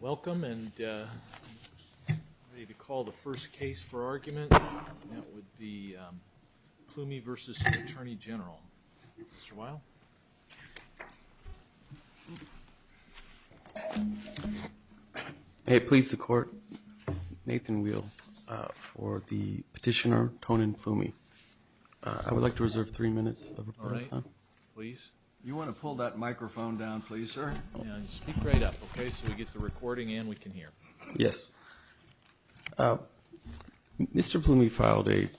Welcome and ready to call the first case for argument. That would be Pllumi vs. Attorney General. Mr. Weill. Hey, please, the court. Nathan Weill for the petitioner, Tonin Pllumi. I would like to reserve three minutes of report time. Please. You want to pull that microphone down, please, sir. Speak right up. OK, so we get the recording and we can hear. Yes. Mr. Plumi filed a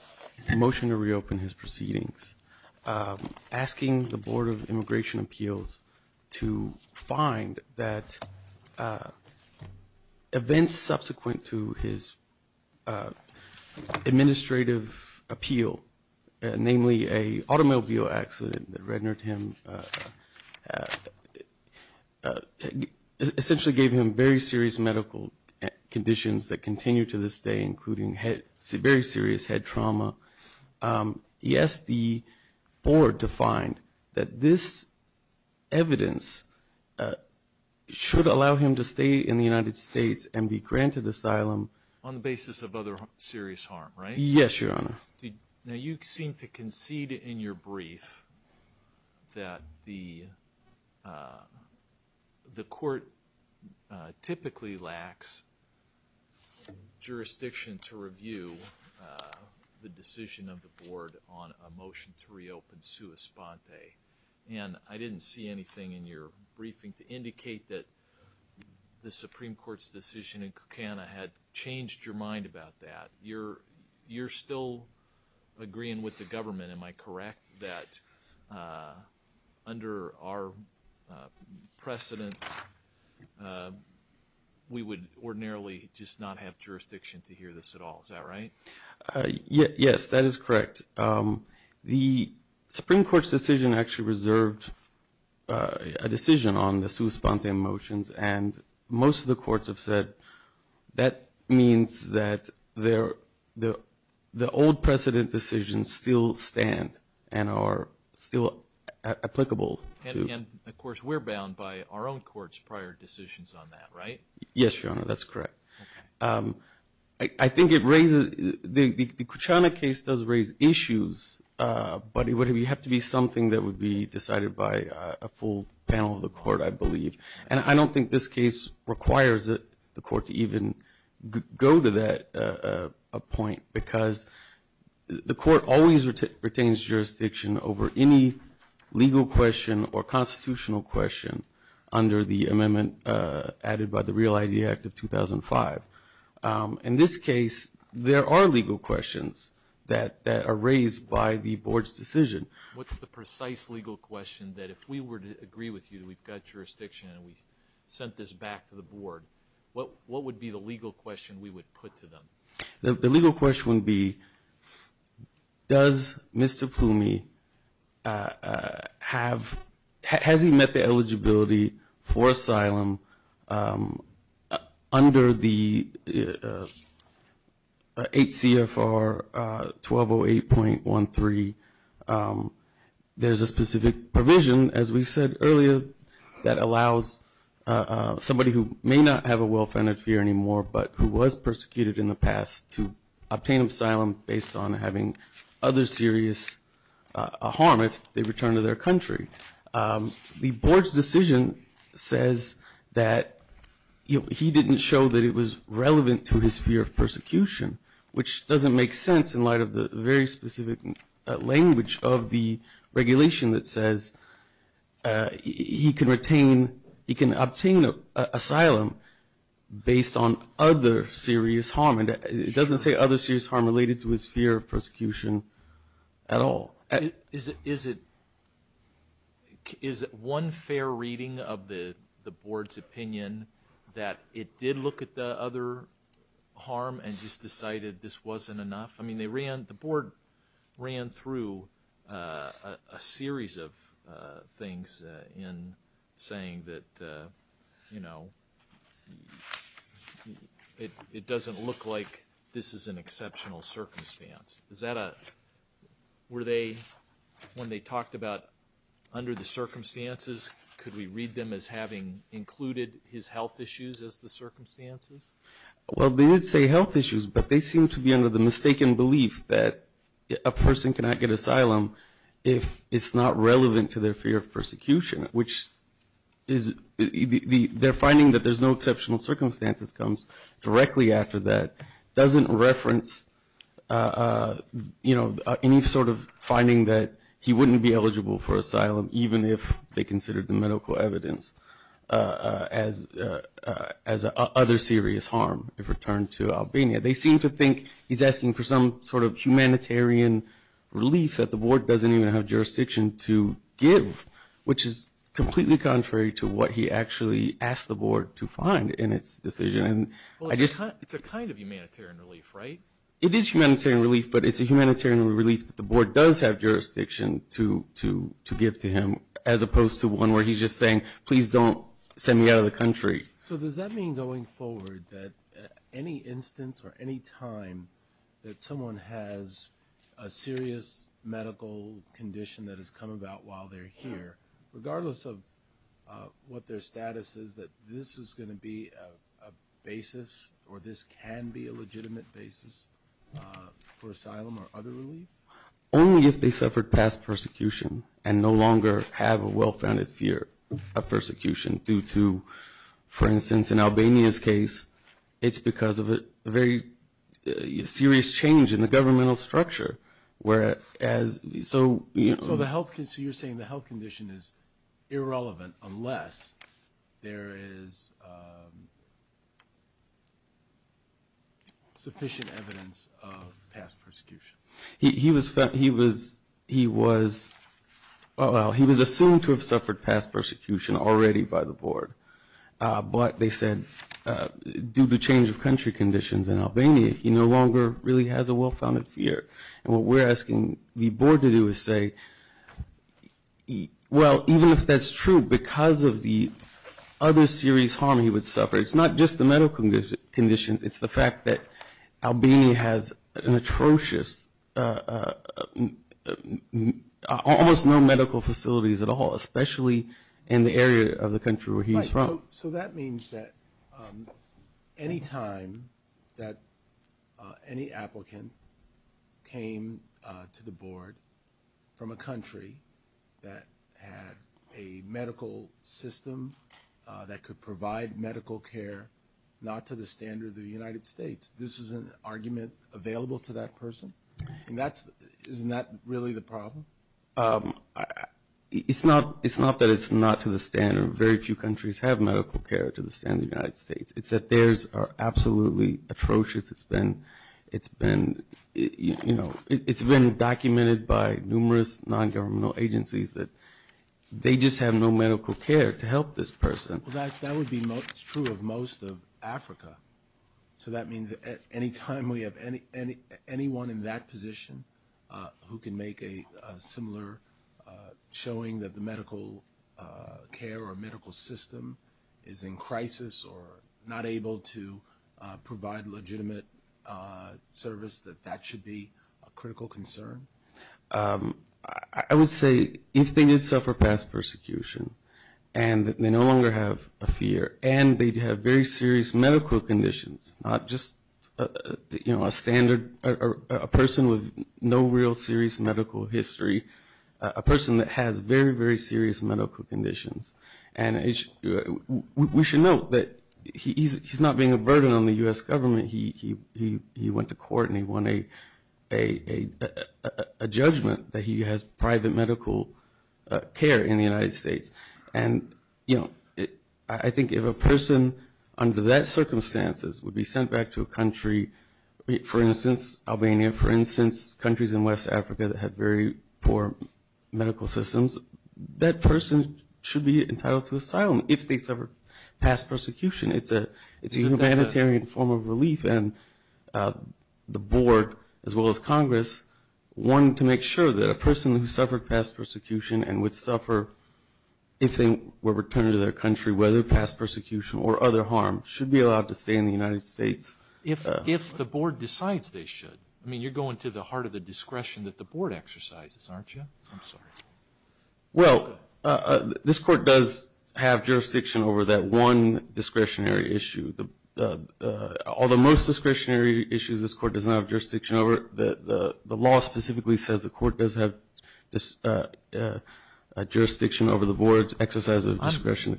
motion to reopen his proceedings, asking the Board of Immigration Appeals to find that events subsequent to his administrative appeal, namely a automobile accident that rendered him essentially gave him very serious medical conditions that continue to this day, including very serious head trauma. He asked the board to find that this evidence should allow him to stay in the United States and be granted asylum on the basis of other serious harm. Right? Yes, Your Honor. Now, you seem to concede in your brief that the the court typically lacks jurisdiction to review the decision of the board on a motion to reopen And I didn't see anything in your briefing to indicate that the Supreme Court's decision in Kankana had changed your mind about that. You're you're still agreeing with the government. Am I correct that under our precedent, we would ordinarily just not have jurisdiction to hear this at all? Is that right? Yes, that is correct. The Supreme Court's decision actually reserved a decision on the sui sponte motions. And most of the courts have said that means that they're the the old precedent decisions still stand and are still applicable. And of course, we're bound by our own courts prior decisions on that. Right? Yes, Your Honor. That's correct. I think it raises the Kuchana case does raise issues. But it would have you have to be something that would be decided by a full panel of the court, I believe. And I don't think this case requires the court to even go to that point, because the court always retains jurisdiction over any legal question or constitutional question. Under the amendment added by the Real ID Act of 2005. In this case, there are legal questions that that are raised by the board's decision. What's the precise legal question that if we were to agree with you, we've got jurisdiction and we sent this back to the board? What what would be the legal question we would put to them? The legal question would be, does Mr. Ploomy have has he met the eligibility for asylum under the 8 CFR 1208.13? There's a specific provision, as we said earlier, that allows somebody who may not have a well-founded fear anymore, but who was persecuted in the past to obtain asylum based on having other serious harm if they return to their country. The board's decision says that he didn't show that it was relevant to his fear of persecution, which doesn't make sense in light of the very specific language of the regulation that says he can retain, he can obtain asylum based on other serious harm. And it doesn't say other serious harm related to his fear of persecution at all. Is it one fair reading of the board's opinion that it did look at the other harm and just decided this wasn't enough? I mean, the board ran through a series of things in saying that, you know, it doesn't look like this is an exceptional circumstance. Is that a – were they – when they talked about under the circumstances, could we read them as having included his health issues as the circumstances? Well, they did say health issues, but they seem to be under the mistaken belief that a person cannot get asylum if it's not relevant to their fear of persecution, which is – their finding that there's no exceptional circumstances comes directly after that, doesn't reference, you know, any sort of finding that he wouldn't be eligible for asylum, even if they considered the medical evidence as other serious harm if returned to Albania. They seem to think he's asking for some sort of humanitarian relief that the board doesn't even have jurisdiction to give, which is completely contrary to what he actually asked the board to find in its decision. Well, it's a kind of humanitarian relief, right? It is humanitarian relief, but it's a humanitarian relief that the board does have jurisdiction to give to him as opposed to one where he's just saying, please don't send me out of the country. So does that mean going forward that any instance or any time that someone has a serious medical condition that has come about while they're here, regardless of what their status is, that this is going to be a basis or this can be a legitimate basis for asylum or other relief? Only if they suffered past persecution and no longer have a well-founded fear of persecution due to, for instance, in Albania's case, it's because of a very serious change in the governmental structure, whereas – So you're saying the health condition is irrelevant unless there is sufficient evidence of past persecution. He was – well, he was assumed to have suffered past persecution already by the board, but they said due to change of country conditions in Albania, he no longer really has a well-founded fear. And what we're asking the board to do is say, well, even if that's true, because of the other serious harm he would suffer, it's not just the medical conditions. It's the fact that Albania has an atrocious – almost no medical facilities at all, especially in the area of the country where he was from. So that means that any time that any applicant came to the board from a country that had a medical system that could provide medical care not to the standard of the United States, this is an argument available to that person? Right. And that's – isn't that really the problem? It's not that it's not to the standard. Very few countries have medical care to the standard of the United States. It's that theirs are absolutely atrocious. It's been – you know, it's been documented by numerous nongovernmental agencies that they just have no medical care to help this person. Well, that would be true of most of Africa. So that means that any time we have anyone in that position who can make a similar – showing that the medical care or medical system is in crisis or not able to provide legitimate service, that that should be a critical concern? I would say if they did suffer past persecution and they no longer have a fear and they have very serious medical conditions, not just a standard – a person with no real serious medical history, a person that has very, very serious medical conditions. And we should note that he's not being a burden on the U.S. government. He went to court and he won a judgment that he has private medical care in the United States. And, you know, I think if a person under that circumstances would be sent back to a country, for instance, Albania, for instance, countries in West Africa that have very poor medical systems, that person should be entitled to asylum if they suffered past persecution. It's a humanitarian form of relief. And the board as well as Congress wanted to make sure that a person who suffered past persecution and would suffer if they were returned to their country, whether past persecution or other harm, should be allowed to stay in the United States. If the board decides they should. I mean, you're going to the heart of the discretion that the board exercises, aren't you? I'm sorry. Well, this court does have jurisdiction over that one discretionary issue. All the most discretionary issues this court does not have jurisdiction over. The law specifically says the court does have jurisdiction over the board's exercise of discretion.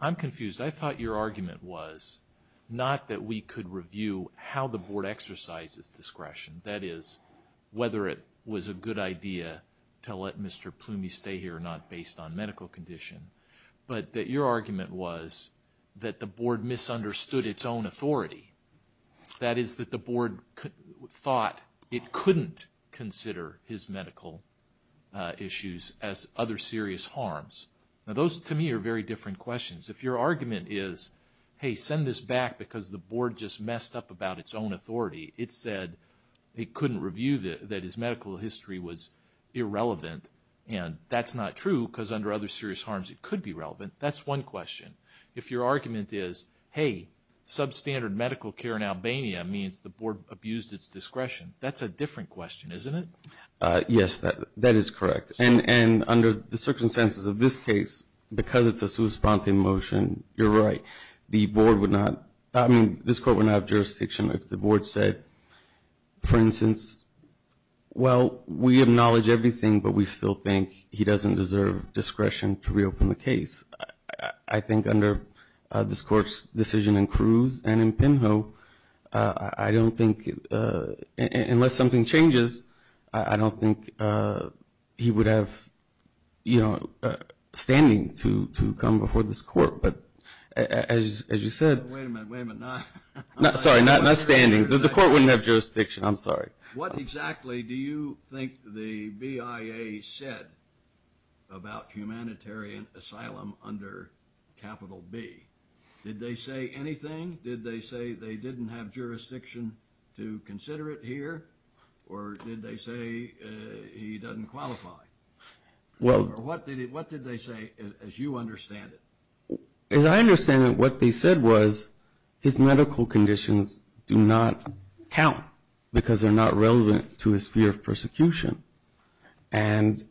I'm confused. I thought your argument was not that we could review how the board exercises discretion, that is, whether it was a good idea to let Mr. Plumy stay here or not based on medical condition, but that your argument was that the board misunderstood its own authority. That is, that the board thought it couldn't consider his medical issues as other serious harms. Now, those to me are very different questions. If your argument is, hey, send this back because the board just messed up about its own authority, it said it couldn't review that his medical history was irrelevant, and that's not true because under other serious harms it could be relevant, that's one question. If your argument is, hey, substandard medical care in Albania means the board abused its discretion, that's a different question, isn't it? Yes, that is correct. And under the circumstances of this case, because it's a substantive motion, you're right, the board would not, I mean, this court would not have jurisdiction if the board said, for instance, well, we acknowledge everything, but we still think he doesn't deserve discretion to reopen the case. I think under this court's decision in Cruz and in Pinho, I don't think, unless something changes, I don't think he would have, you know, standing to come before this court. But as you said – Wait a minute, wait a minute. Sorry, not standing. The court wouldn't have jurisdiction. I'm sorry. What exactly do you think the BIA said about humanitarian asylum under Capital B? Did they say anything? Did they say they didn't have jurisdiction to consider it here, or did they say he doesn't qualify? Or what did they say, as you understand it? As I understand it, what they said was his medical conditions do not count because they're not relevant to his fear of persecution. And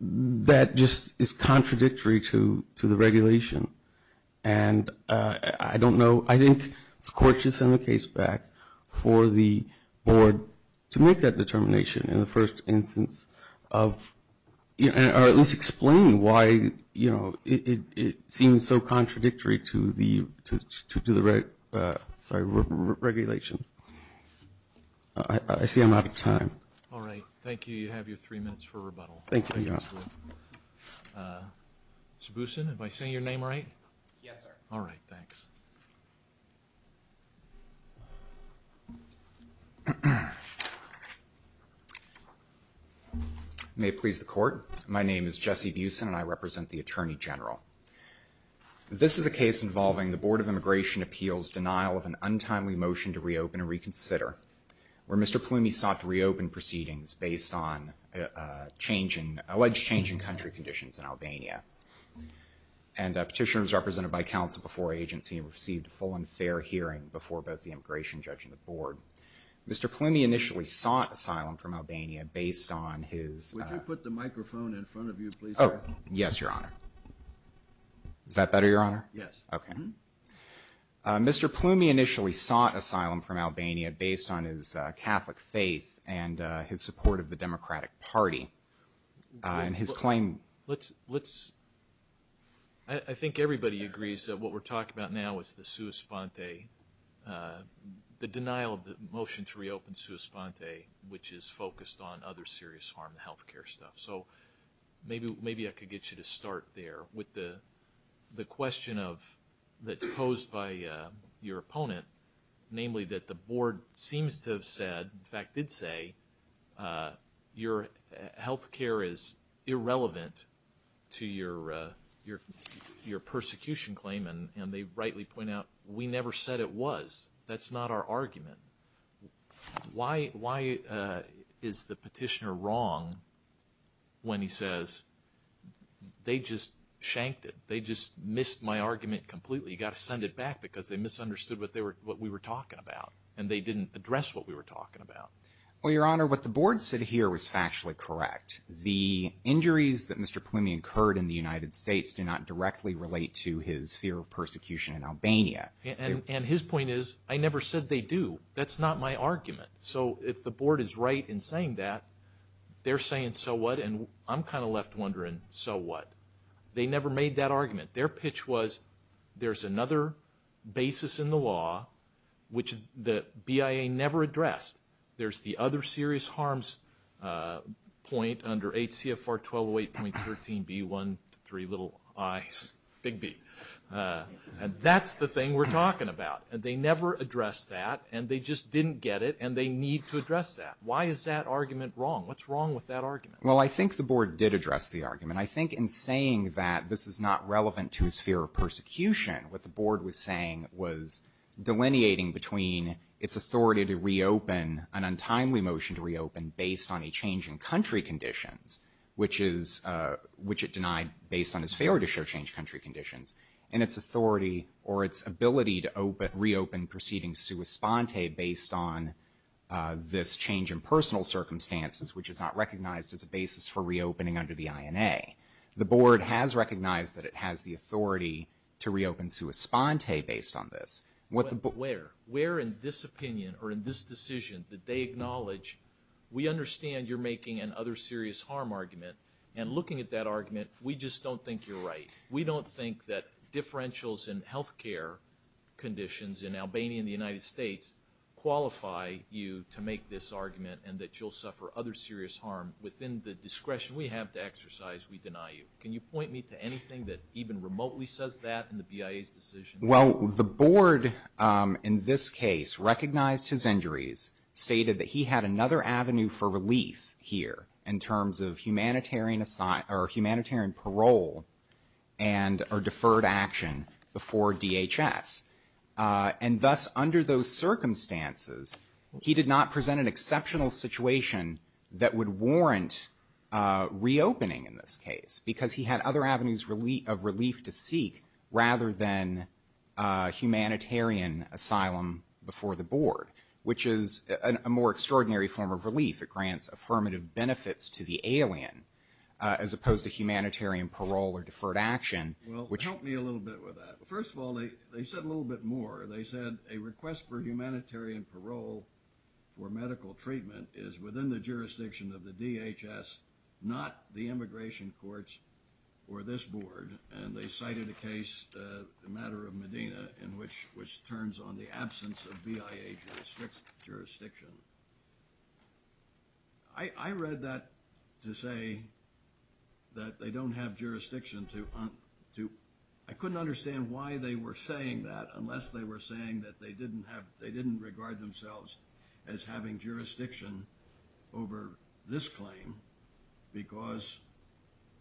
that just is contradictory to the regulation. And I don't know, I think the court should send the case back for the board to make that determination in the first instance or at least explain why it seems so contradictory to the regulations. I see I'm out of time. All right. Thank you. You have your three minutes for rebuttal. Thank you, Your Honor. Mr. Boussin, am I saying your name right? Yes, sir. All right, thanks. May it please the court. My name is Jesse Boussin, and I represent the Attorney General. This is a case involving the Board of Immigration Appeals' denial of an untimely motion to reopen and reconsider, where Mr. Plumy sought to reopen proceedings based on alleged change in country conditions in Albania. And a petitioner was represented by counsel before agency and received a full and fair hearing before both the immigration judge and the board. Mr. Plumy initially sought asylum from Albania based on his- Would you put the microphone in front of you, please? Oh, yes, Your Honor. Is that better, Your Honor? Yes. Okay. Mr. Plumy initially sought asylum from Albania based on his Catholic faith and his support of the Democratic Party. And his claim- Let's-I think everybody agrees that what we're talking about now is the sua sponte, the denial of the motion to reopen sua sponte, which is focused on other serious harm to health care stuff. So maybe I could get you to start there with the question of-that's posed by your opponent, namely that the board seems to have said-in fact, did say your health care is irrelevant to your persecution claim. And they rightly point out we never said it was. That's not our argument. Why is the petitioner wrong when he says they just shanked it? They just missed my argument completely. You've got to send it back because they misunderstood what we were talking about, and they didn't address what we were talking about. Well, Your Honor, what the board said here was factually correct. The injuries that Mr. Plumy incurred in the United States do not directly relate to his fear of persecution in Albania. And his point is I never said they do. That's not my argument. So if the board is right in saying that, they're saying so what, and I'm kind of left wondering so what. They never made that argument. Their pitch was there's another basis in the law which the BIA never addressed. There's the other serious harms point under 8 CFR 1208.13B1, three little I's, big B. And that's the thing we're talking about. And they never addressed that, and they just didn't get it, and they need to address that. Why is that argument wrong? What's wrong with that argument? Well, I think the board did address the argument. And I think in saying that this is not relevant to his fear of persecution, what the board was saying was delineating between its authority to reopen, an untimely motion to reopen based on a change in country conditions, which it denied based on its failure to show change in country conditions, and its authority or its ability to reopen proceeding sua sponte based on this change in personal circumstances, which is not recognized as a basis for reopening under the INA. The board has recognized that it has the authority to reopen sua sponte based on this. Where? Where in this opinion or in this decision did they acknowledge, we understand you're making another serious harm argument, and looking at that argument, we just don't think you're right. We don't think that differentials in health care conditions in Albania and the United States qualify you to make this argument and that you'll suffer other serious harm. Within the discretion we have to exercise, we deny you. Can you point me to anything that even remotely says that in the BIA's decision? Well, the board in this case recognized his injuries, stated that he had another avenue for relief here in terms of humanitarian parole and or deferred action before DHS. And thus, under those circumstances, he did not present an exceptional situation that would warrant reopening in this case because he had other avenues of relief to seek rather than humanitarian asylum before the board, which is a more extraordinary form of relief. It grants affirmative benefits to the alien as opposed to humanitarian parole or deferred action. Well, help me a little bit with that. Well, first of all, they said a little bit more. They said a request for humanitarian parole for medical treatment is within the jurisdiction of the DHS, not the immigration courts or this board. And they cited a case, the matter of Medina, in which – which turns on the absence of BIA jurisdiction. I read that to say that they don't have jurisdiction to – I couldn't understand why they were saying that unless they were saying that they didn't have – they didn't regard themselves as having jurisdiction over this claim because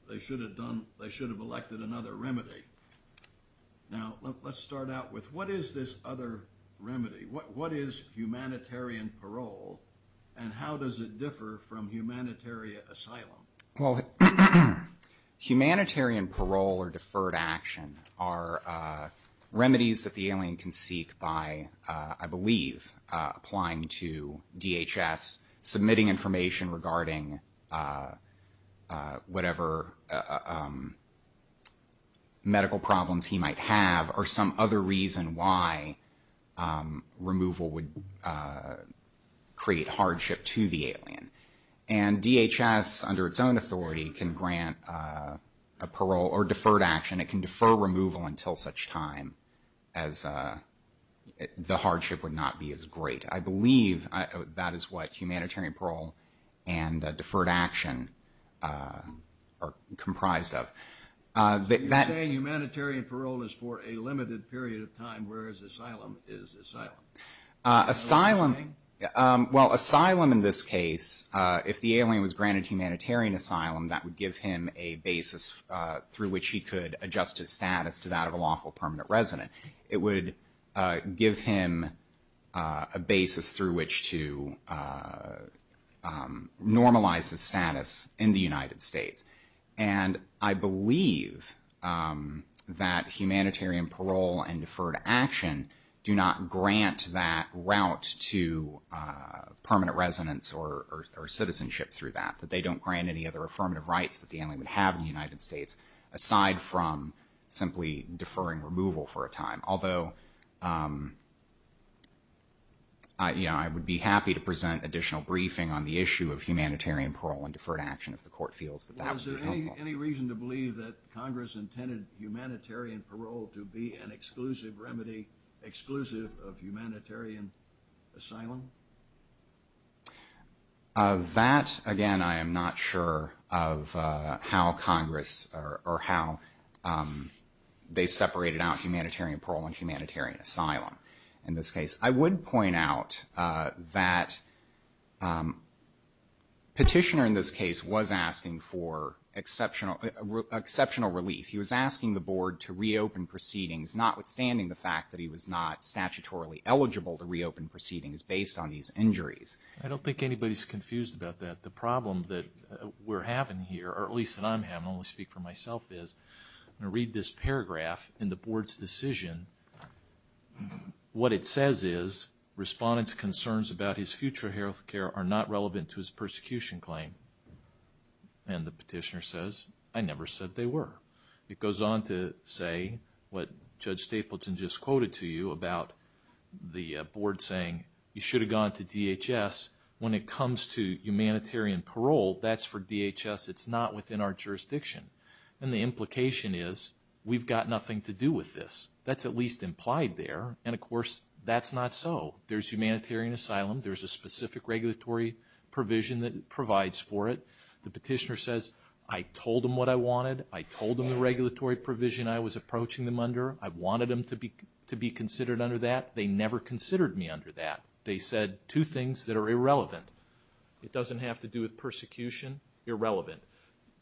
they should have done – they should have elected another remedy. Now, let's start out with what is this other remedy? What is humanitarian parole and how does it differ from humanitarian asylum? Well, humanitarian parole or deferred action are remedies that the alien can seek by, I believe, applying to DHS, submitting information regarding whatever medical problems he might have or some other reason why removal would create hardship to the alien. And DHS, under its own authority, can grant a parole or deferred action. It can defer removal until such time as the hardship would not be as great. I believe that is what humanitarian parole and deferred action are comprised of. You're saying humanitarian parole is for a limited period of time, whereas asylum is asylum. Well, asylum in this case, if the alien was granted humanitarian asylum, that would give him a basis through which he could adjust his status to that of a lawful permanent resident. It would give him a basis through which to normalize his status in the United States. And I believe that humanitarian parole and deferred action do not grant that route to permanent residence or citizenship through that, that they don't grant any other affirmative rights that the alien would have in the United States aside from simply deferring removal for a time. Although, you know, I would be happy to present additional briefing on the issue of humanitarian parole and deferred action if the court feels that that would be helpful. Was there any reason to believe that Congress intended humanitarian parole to be an exclusive remedy, exclusive of humanitarian asylum? That, again, I am not sure of how Congress or how they separated out humanitarian parole and humanitarian asylum in this case. I would point out that Petitioner in this case was asking for exceptional relief. He was asking the Board to reopen proceedings, notwithstanding the fact that he was not statutorily eligible to reopen proceedings based on these injuries. I don't think anybody's confused about that. The problem that we're having here, or at least that I'm having, I only speak for myself, is I'm going to read this paragraph in the Board's decision. What it says is, Respondent's concerns about his future health care are not relevant to his persecution claim. And the Petitioner says, I never said they were. It goes on to say what Judge Stapleton just quoted to you about the Board saying, you should have gone to DHS. When it comes to humanitarian parole, that's for DHS. It's not within our jurisdiction. And the implication is, we've got nothing to do with this. That's at least implied there. And, of course, that's not so. There's humanitarian asylum. There's a specific regulatory provision that provides for it. The Petitioner says, I told them what I wanted. I told them the regulatory provision I was approaching them under. I wanted them to be considered under that. They never considered me under that. They said two things that are irrelevant. It doesn't have to do with persecution. Irrelevant.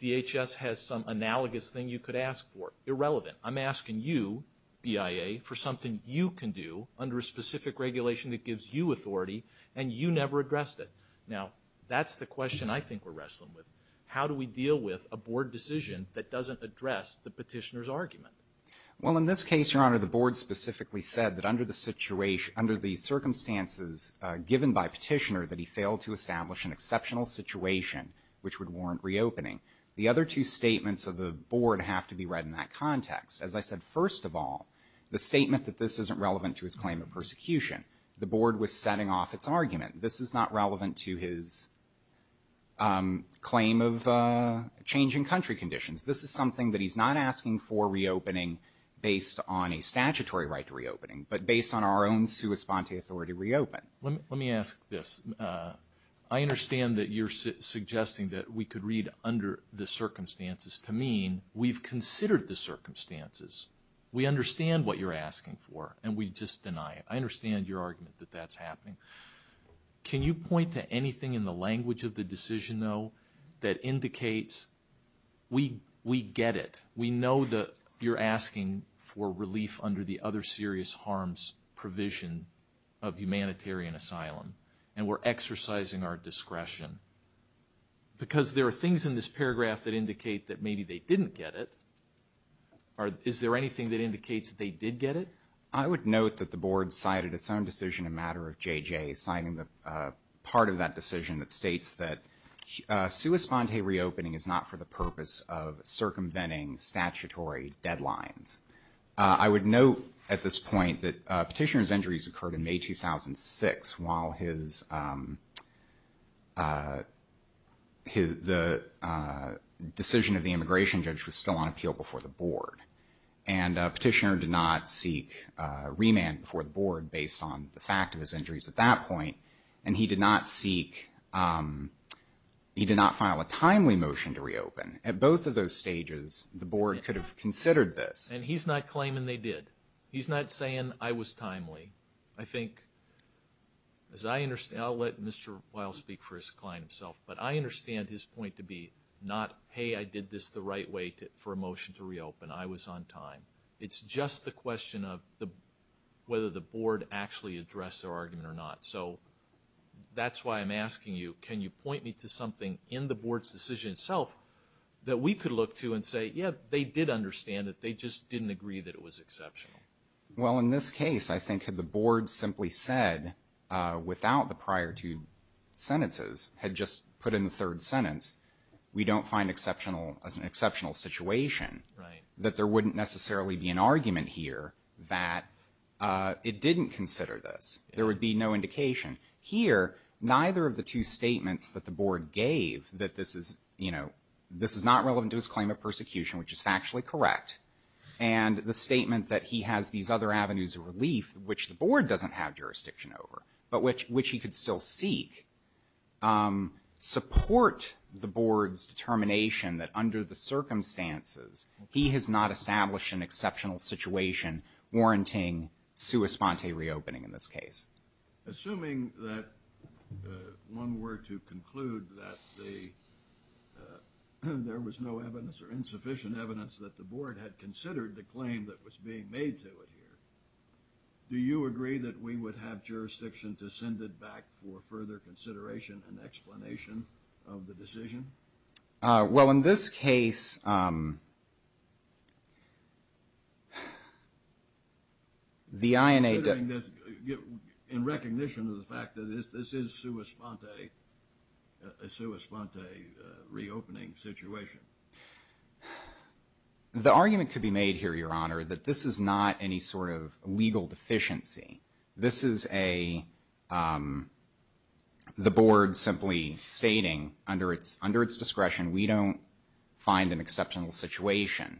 DHS has some analogous thing you could ask for. Irrelevant. I'm asking you, BIA, for something you can do under a specific regulation that gives you authority, and you never addressed it. Now, that's the question I think we're wrestling with. How do we deal with a Board decision that doesn't address the Petitioner's argument? Well, in this case, Your Honor, the Board specifically said that under the circumstances given by Petitioner that he failed to establish an exceptional situation which would warrant reopening. The other two statements of the Board have to be read in that context. As I said, first of all, the statement that this isn't relevant to his claim of persecution, the Board was setting off its argument. This is not relevant to his claim of changing country conditions. This is something that he's not asking for reopening based on a statutory right to reopening, but based on our own sua sponte authority to reopen. Let me ask this. I understand that you're suggesting that we could read under the circumstances to mean we've considered the circumstances, we understand what you're asking for, and we just deny it. I understand your argument that that's happening. Can you point to anything in the language of the decision, though, that indicates we get it, we know that you're asking for relief under the other serious harms provision of humanitarian asylum, and we're exercising our discretion? Because there are things in this paragraph that indicate that maybe they didn't get it. Is there anything that indicates that they did get it? I would note that the Board cited its own decision in matter of JJ signing part of that decision that states that sua sponte reopening is not for the purpose of circumventing statutory deadlines. I would note at this point that Petitioner's injuries occurred in May 2006 while the decision of the immigration judge was still on appeal before the Board, and Petitioner did not seek remand before the Board based on the fact of his injuries at that point, and he did not seek, he did not file a timely motion to reopen. At both of those stages, the Board could have considered this. And he's not claiming they did. He's not saying I was timely. I think, as I understand, I'll let Mr. Weil speak for his client himself, but I understand his point to be not, hey, I did this the right way for a motion to reopen, I was on time. It's just the question of whether the Board actually addressed their argument or not. So that's why I'm asking you, can you point me to something in the Board's decision itself that we could look to and say, yeah, they did understand it, they just didn't agree that it was exceptional? Well, in this case, I think if the Board simply said without the prior two sentences, had just put in the third sentence, we don't find an exceptional situation, that there wouldn't necessarily be an argument here that it didn't consider this. There would be no indication. Here, neither of the two statements that the Board gave that this is, you know, this is not relevant to his claim of persecution, which is factually correct, and the statement that he has these other avenues of relief, which the Board doesn't have jurisdiction over, but which he could still seek, support the Board's determination that under the circumstances, he has not established an exceptional situation warranting sua sponte reopening in this case. Assuming that one were to conclude that there was no evidence or insufficient evidence that the Board had considered the claim that was being made to it here, do you agree that we would have jurisdiction to send it back for further consideration and explanation of the decision? Well, in this case, the INA does... In recognition of the fact that this is sua sponte, a sua sponte reopening situation. The argument could be made here, Your Honor, that this is not any sort of legal deficiency. This is a... The Board simply stating, under its discretion, we don't find an exceptional situation.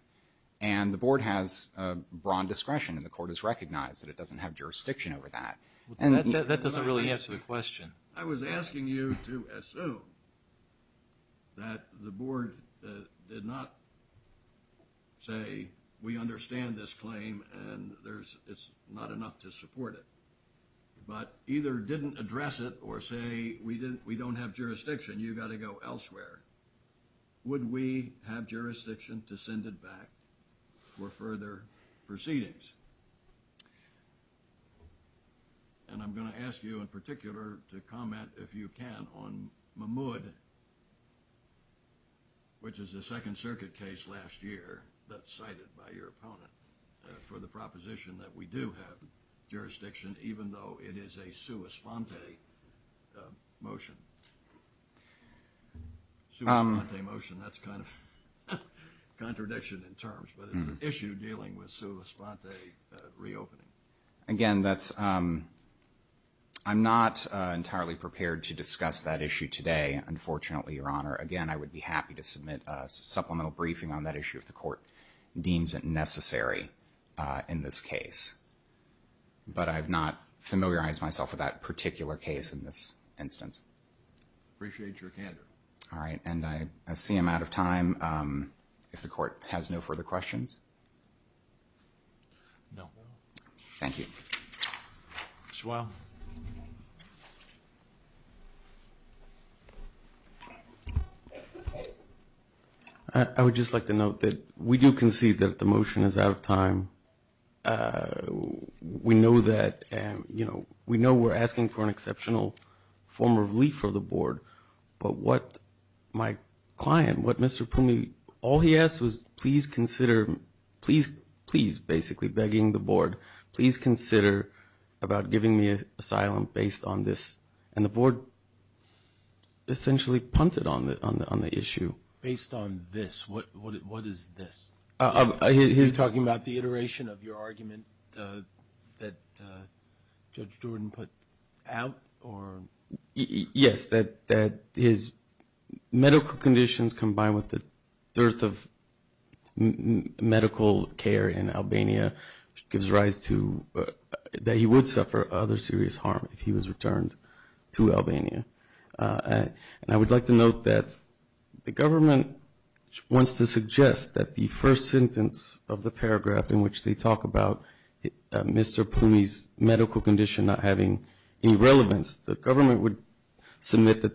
And the Board has a broad discretion, and the Court has recognized that it doesn't have jurisdiction over that. That doesn't really answer the question. I was asking you to assume that the Board did not say, we understand this claim and there's... It's not enough to support it, but either didn't address it or say, we don't have jurisdiction, you've got to go elsewhere. Would we have jurisdiction to send it back for further proceedings? And I'm going to ask you, in particular, to comment, if you can, on Mahmoud, which is a Second Circuit case last year that's cited by your opponent for the proposition that we do have jurisdiction, even though it is a sua sponte motion. Sua sponte motion, that's kind of a contradiction in terms, but it's an issue dealing with sua sponte reopening. Again, that's... I'm not entirely prepared to discuss that issue today, unfortunately, Your Honor. Again, I would be happy to submit a supplemental briefing on that issue if the Court deems it necessary in this case. But I've not familiarized myself with that particular case in this instance. Appreciate your candor. All right. And I see I'm out of time. If the Court has no further questions? No. Thank you. Ms. Weill. I would just like to note that we do concede that the motion is out of time. We know that, you know, we know we're asking for an exceptional form of relief for the Board, but what my client, what Mr. Pumi, all he asked was, please consider, please, please, basically begging the Board, please consider about giving me asylum based on this. And the Board essentially punted on the issue. Based on this? What is this? Are you talking about the iteration of your argument that Judge Jordan put out? Yes, that his medical conditions combined with the dearth of medical care in Albania gives rise to that he would suffer other serious harm if he was returned to Albania. And I would like to note that the government wants to suggest that the first sentence of the paragraph in which they talk about Mr. Pumi's medical condition not having any relevance, the government would submit that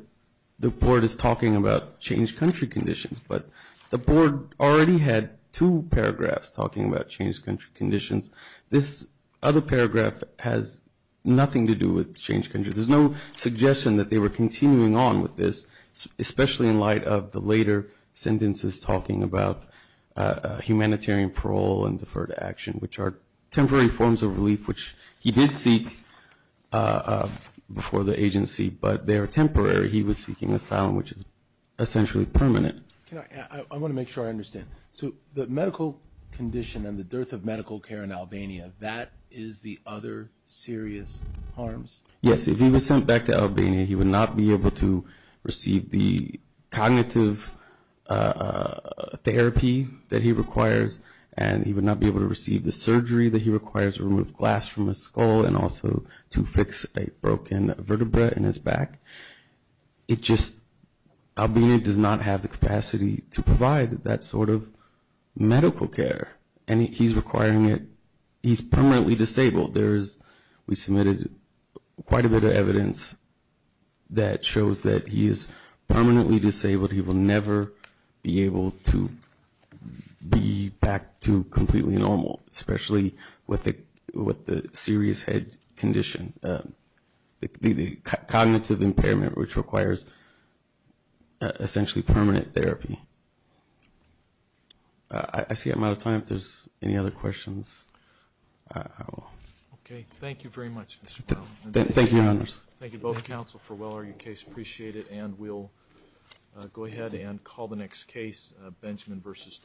the Board is talking about changed country conditions. But the Board already had two paragraphs talking about changed country conditions. This other paragraph has nothing to do with changed country. There's no suggestion that they were continuing on with this, especially in light of the later sentences talking about humanitarian parole and deferred action, which are temporary forms of relief, which he did seek before the agency, but they are temporary. He was seeking asylum, which is essentially permanent. I want to make sure I understand. So the medical condition and the dearth of medical care in Albania, that is the other serious harms? Yes, if he was sent back to Albania, he would not be able to receive the cognitive therapy that he requires, and he would not be able to receive the surgery that he requires to remove glass from his skull and also to fix a broken vertebra in his back. It just – Albania does not have the capacity to provide that sort of medical care, and he's requiring it. He's permanently disabled. We submitted quite a bit of evidence that shows that he is permanently disabled. He will never be able to be back to completely normal, especially with the serious head condition, the cognitive impairment, which requires essentially permanent therapy. I see I'm out of time. If there's any other questions, I will. Okay, thank you very much, Mr. Brown. Thank you, Your Honors. Thank you both, counsel, for Weller. We appreciate it, and we'll go ahead and call the next case, Benjamin v. Department of Health.